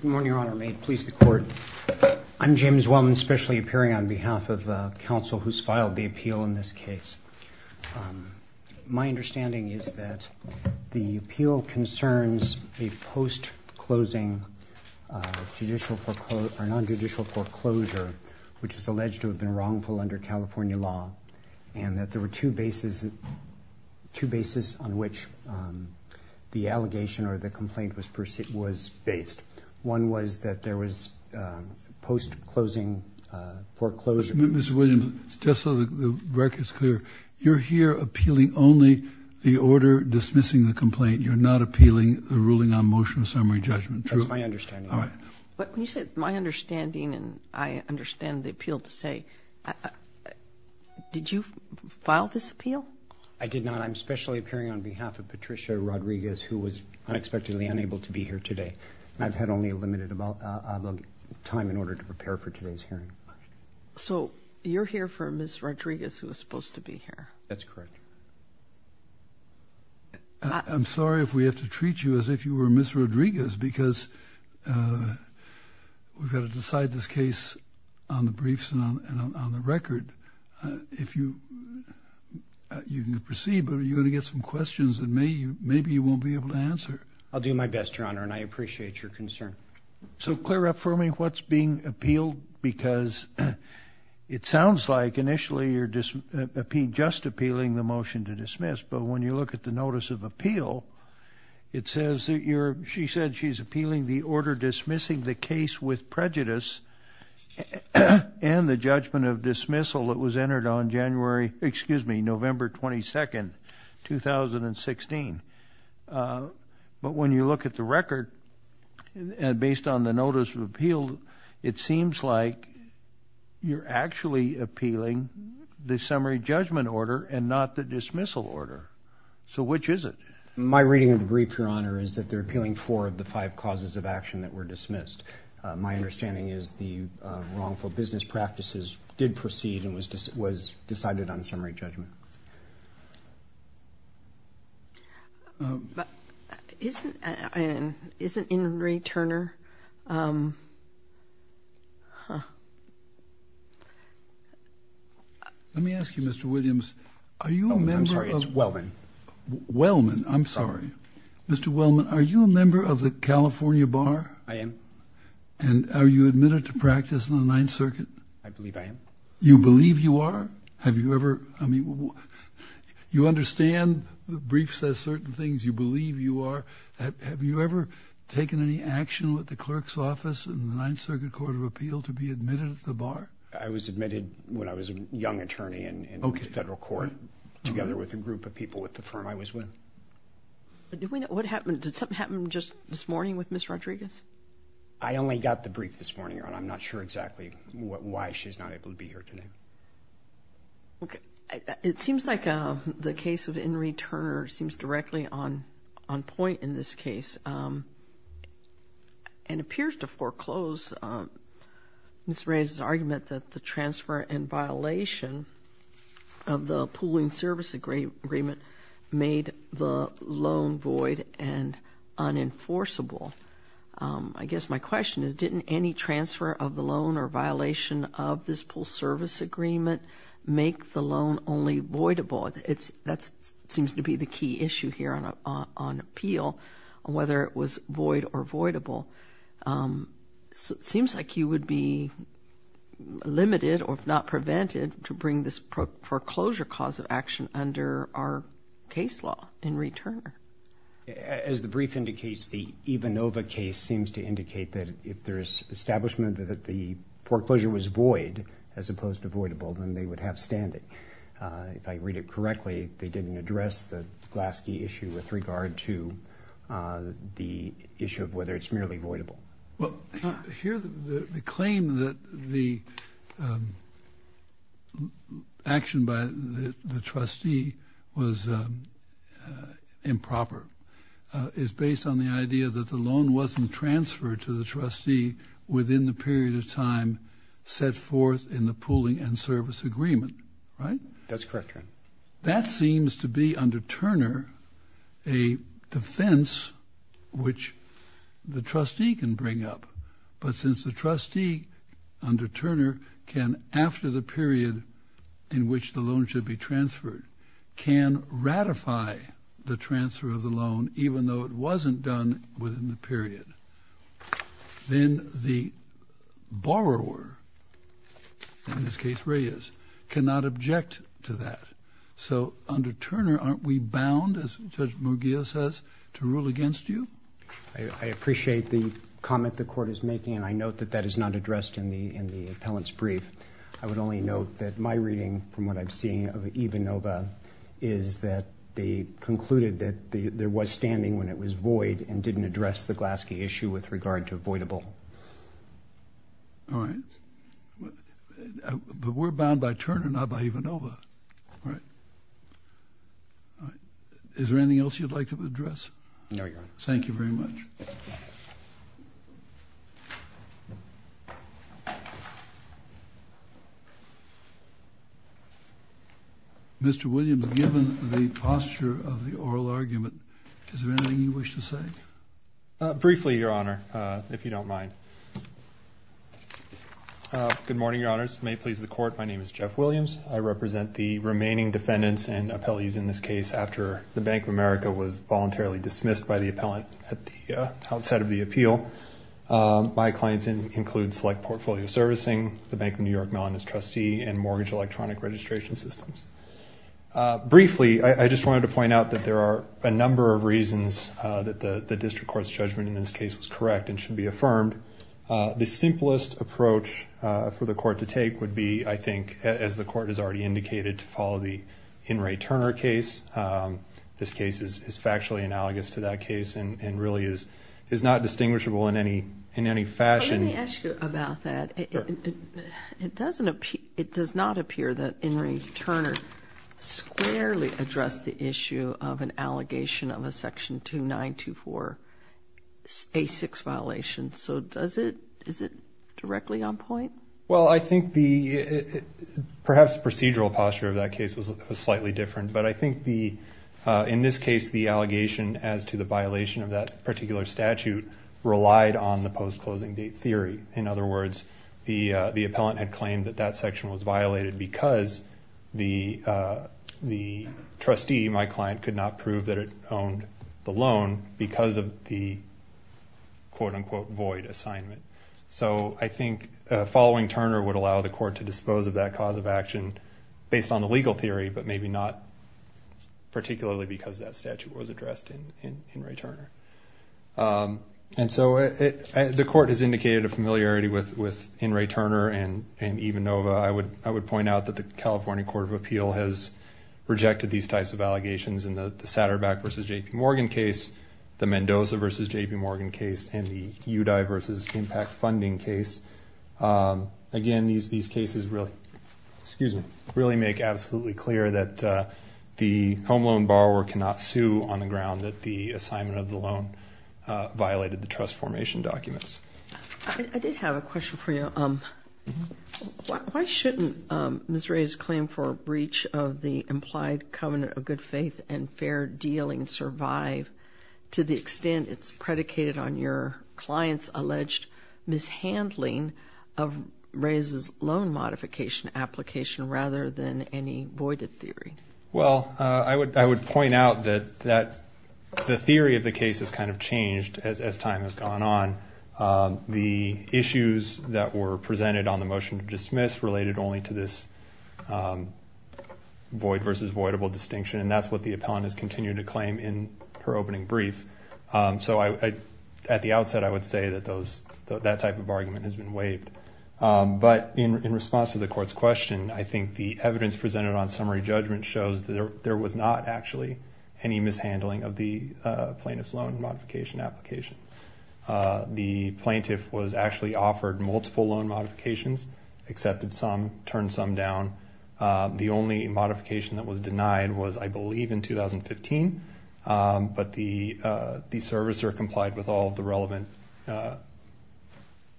Good morning, Your Honor. May it please the Court. I'm James Wellman, specially appearing on behalf of counsel who's filed the appeal in this case. My understanding is that the appeal concerns a post-closing judicial foreclosure or non-judicial foreclosure, which is alleged to have been wrongful under California law, and that there were two bases, two bases on which the allegation or the complaint was based. One was that there was post-closing foreclosure. Mr. Williams, just so the record is clear, you're here appealing only the order dismissing the complaint. You're not appealing the ruling on motion of summary judgment, true? That's my understanding. All right. But when you say my understanding, and I understand the appeal to say, did you file this appeal? I did not. I'm specially appearing on behalf of Patricia Rodriguez, who was unexpectedly unable to be here today. I've had only a limited amount of time in order to prepare for today's hearing. So you're here for Ms. Rodriguez, who was supposed to be here? That's correct. I'm sorry if we have to treat you as if you were Ms. Rodriguez, because we've got to decide this case on the briefs and on the record. If you can proceed, but are you going to get some questions that maybe you won't be able to answer? I'll do my best, Your Honor, and I appreciate your concern. So clear up for me what's being appealed, because it sounds like initially you're just appealing the motion to dismiss. But when you look at the notice of appeal, it says that you're, she said she's appealing the order dismissing the case with prejudice and the judgment of dismissal that was entered on January, excuse me, November 22nd, 2016. But when you look at the record, and based on the notice of appeal, it seems like you're actually appealing the summary judgment order and not the dismissal order. So which is it? My reading of the brief, Your Honor, is that they're appealing four of the five causes of action that were dismissed. My understanding is the wrongful business practices did proceed and was decided on summary judgment. Isn't Henry Turner? Let me ask you, Mr. Williams. I'm sorry, it's Wellman. Wellman, I'm sorry. Mr. Wellman, are you a member of the California Bar? I am. And are you admitted to practice in the Ninth Circuit? I believe I am. You believe you are? Have you ever, I mean, you understand the brief says certain things, you believe you are. Have you ever taken any action with the clerk's office in the Ninth Circuit Court of Appeal to be admitted at the bar? I was admitted when I was a young attorney in federal court together with a group of people with the firm I was with. What happened? Did something happen just this morning with Ms. Rodriguez? I only got the brief this morning, Your Honor. I'm not sure exactly why she's not able to be here today. Okay. It seems like the case of Henry Turner seems directly on point in this case and appears to foreclose Ms. Rodriguez's argument that the transfer and violation of the pooling service agreement made the loan void and unenforceable. I guess my question is didn't any transfer of the loan or violation of this pool service agreement make the loan only voidable? That seems to be the key issue here on appeal, whether it was void or voidable. It seems like you would be limited or if not prevented to bring this foreclosure cause of action under our case law in return. As the brief indicates, the Ivanova case seems to indicate that if there is establishment that the foreclosure was void as opposed to voidable, then they would have standing. If I read it correctly, they didn't address the Glaske issue with regard to the issue of whether it's merely voidable. Well, here the claim that the action by the trustee was improper is based on the idea that the loan wasn't transferred to the trustee within the period of time set forth in the pooling and service agreement, right? That's correct. That seems to be under Turner a defense which the trustee can bring up. But since the trustee under Turner can after the period in which the loan should be transferred can ratify the transfer of the loan, even though it wasn't done within the period, then the borrower, in this case Reyes, cannot object to that. So under Turner, aren't we bound, as Judge Mugillo says, to rule against you? I appreciate the comment the Court is making, and I note that that is not addressed in the appellant's brief. I would only note that my reading from what I've seen of Ivanova is that they concluded that there was standing when it was void and didn't address the Glaske issue with regard to voidable. All right. But we're bound by Turner, not by Ivanova, right? Is there anything else you'd like to address? No, Your Honor. Thank you very much. Mr. Williams, given the posture of the oral argument, is there anything you wish to say? Briefly, Your Honor, if you don't mind. Good morning, Your Honors. May it please the Court, my name is Jeff Williams. I represent the remaining defendants and appellees in this case after the Bank of America was voluntarily dismissed by the appellant at the outset of the appeal. My clients include Select Portfolio Servicing, the Bank of New York Mellonist Trustee, and Mortgage Electronic Registration Systems. Briefly, I just wanted to point out that there are a number of reasons that the district court's judgment in this case was correct and should be affirmed. The simplest approach for the Court to take would be, I think, as the Court has already indicated, to follow the In re Turner case. This case is factually analogous to that case and really is not distinguishable in any fashion. Let me ask you about that. It does not appear that In re Turner squarely addressed the issue of an allegation of a section 2924A6 violation. So is it directly on point? Well, I think perhaps the procedural posture of that case was slightly different. But I think in this case the allegation as to the violation of that particular statute relied on the post-closing date theory. In other words, the appellant had claimed that that section was violated because the trustee, my client, could not prove that it owned the loan because of the quote-unquote void assignment. So I think following Turner would allow the Court to dispose of that cause of action based on the legal theory, but maybe not particularly because that statute was addressed in re Turner. And so the Court has indicated a familiarity with In re Turner and EVA Nova. I would point out that the California Court of Appeal has rejected these types of allegations in the Satterbach v. J.P. Morgan case, the Mendoza v. J.P. Morgan case, and the UDI v. IMPACT funding case. Again, these cases really make absolutely clear that the home loan borrower cannot sue on the ground that the assignment of the loan violated the trust formation documents. I did have a question for you. Why shouldn't Ms. Rea's claim for a breach of the implied covenant of good faith and fair dealing survive to the extent it's predicated on your client's alleged mishandling of Rea's loan modification application rather than any voided theory? Well, I would point out that the theory of the case has kind of changed as time has gone on. The issues that were presented on the motion to dismiss related only to this void versus voidable distinction, and that's what the appellant has continued to claim in her opening brief. So at the outset, I would say that that type of argument has been waived. But in response to the court's question, I think the evidence presented on summary judgment shows that there was not actually any mishandling of the plaintiff's loan modification application. The plaintiff was actually offered multiple loan modifications, accepted some, turned some down. The only modification that was denied was, I believe, in 2015, but the servicer complied with all the relevant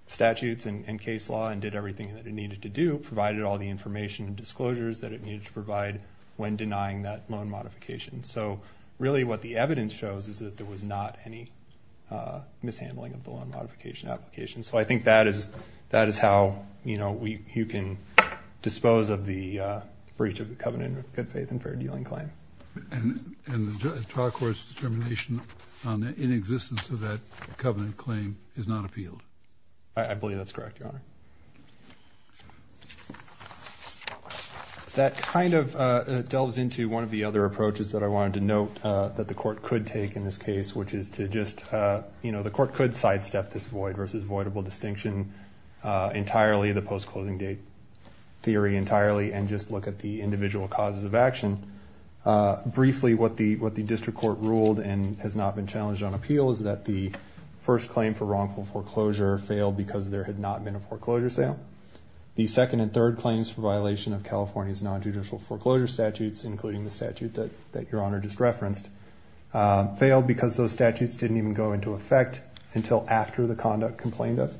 statutes and case law and did everything that it needed to do, provided all the information and disclosures that it needed to provide when denying that loan modification. So really what the evidence shows is that there was not any mishandling of the loan modification application. So I think that is how you can dispose of the breach of the covenant of good faith and fair dealing claim. And the trial court's determination on the inexistence of that covenant claim is not appealed. I believe that's correct, Your Honor. That kind of delves into one of the other approaches that I wanted to note that the court could take in this case, which is to just, you know, the court could sidestep this void versus voidable distinction entirely, the post-closing date theory entirely, and just look at the individual causes of action. Briefly, what the district court ruled and has not been challenged on appeal is that the first claim for wrongful foreclosure failed because there had not been a foreclosure sale. The second and third claims for violation of California's nonjudicial foreclosure statutes, including the statute that Your Honor just referenced, failed because those statutes didn't even go into effect until after the conduct complained of.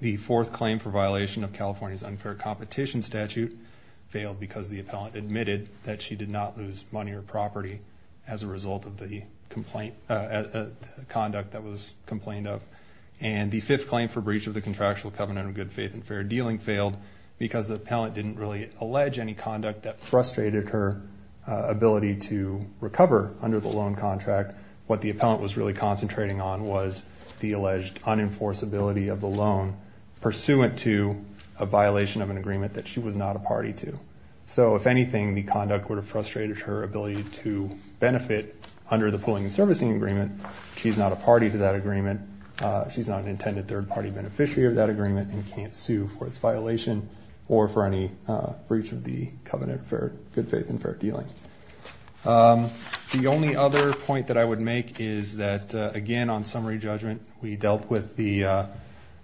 The fourth claim for violation of California's unfair competition statute failed because the appellant admitted that she did not lose money or property as a result of the conduct that was complained of. And the fifth claim for breach of the contractual covenant of good faith and fair dealing failed because the appellant didn't really allege any conduct that frustrated her ability to recover under the loan contract. What the appellant was really concentrating on was the alleged unenforceability of the loan pursuant to a violation of an agreement that she was not a party to. So if anything, the conduct would have frustrated her ability to benefit under the pooling and servicing agreement. She's not a party to that agreement. She's not an intended third-party beneficiary of that agreement and can't sue for its violation or for any breach of the covenant of good faith and fair dealing. The only other point that I would make is that, again, on summary judgment, we dealt with the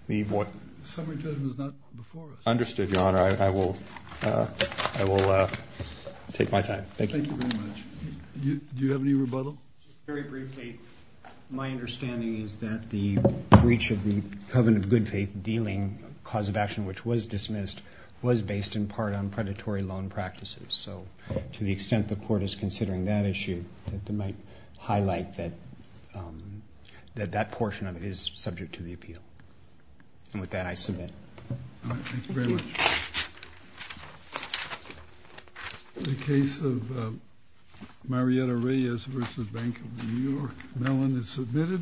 void. Summary judgment is not before us. Understood, Your Honor. I will take my time. Thank you. Thank you very much. Do you have any rebuttal? Just very briefly, my understanding is that the breach of the covenant of good faith dealing cause of action which was dismissed was based in part on predatory loan practices. So to the extent the court is considering that issue, it might highlight that that portion of it is subject to the appeal. And with that, I submit. Thank you very much. The case of Marietta Reyes v. Bank of New York, Mellon, is submitted.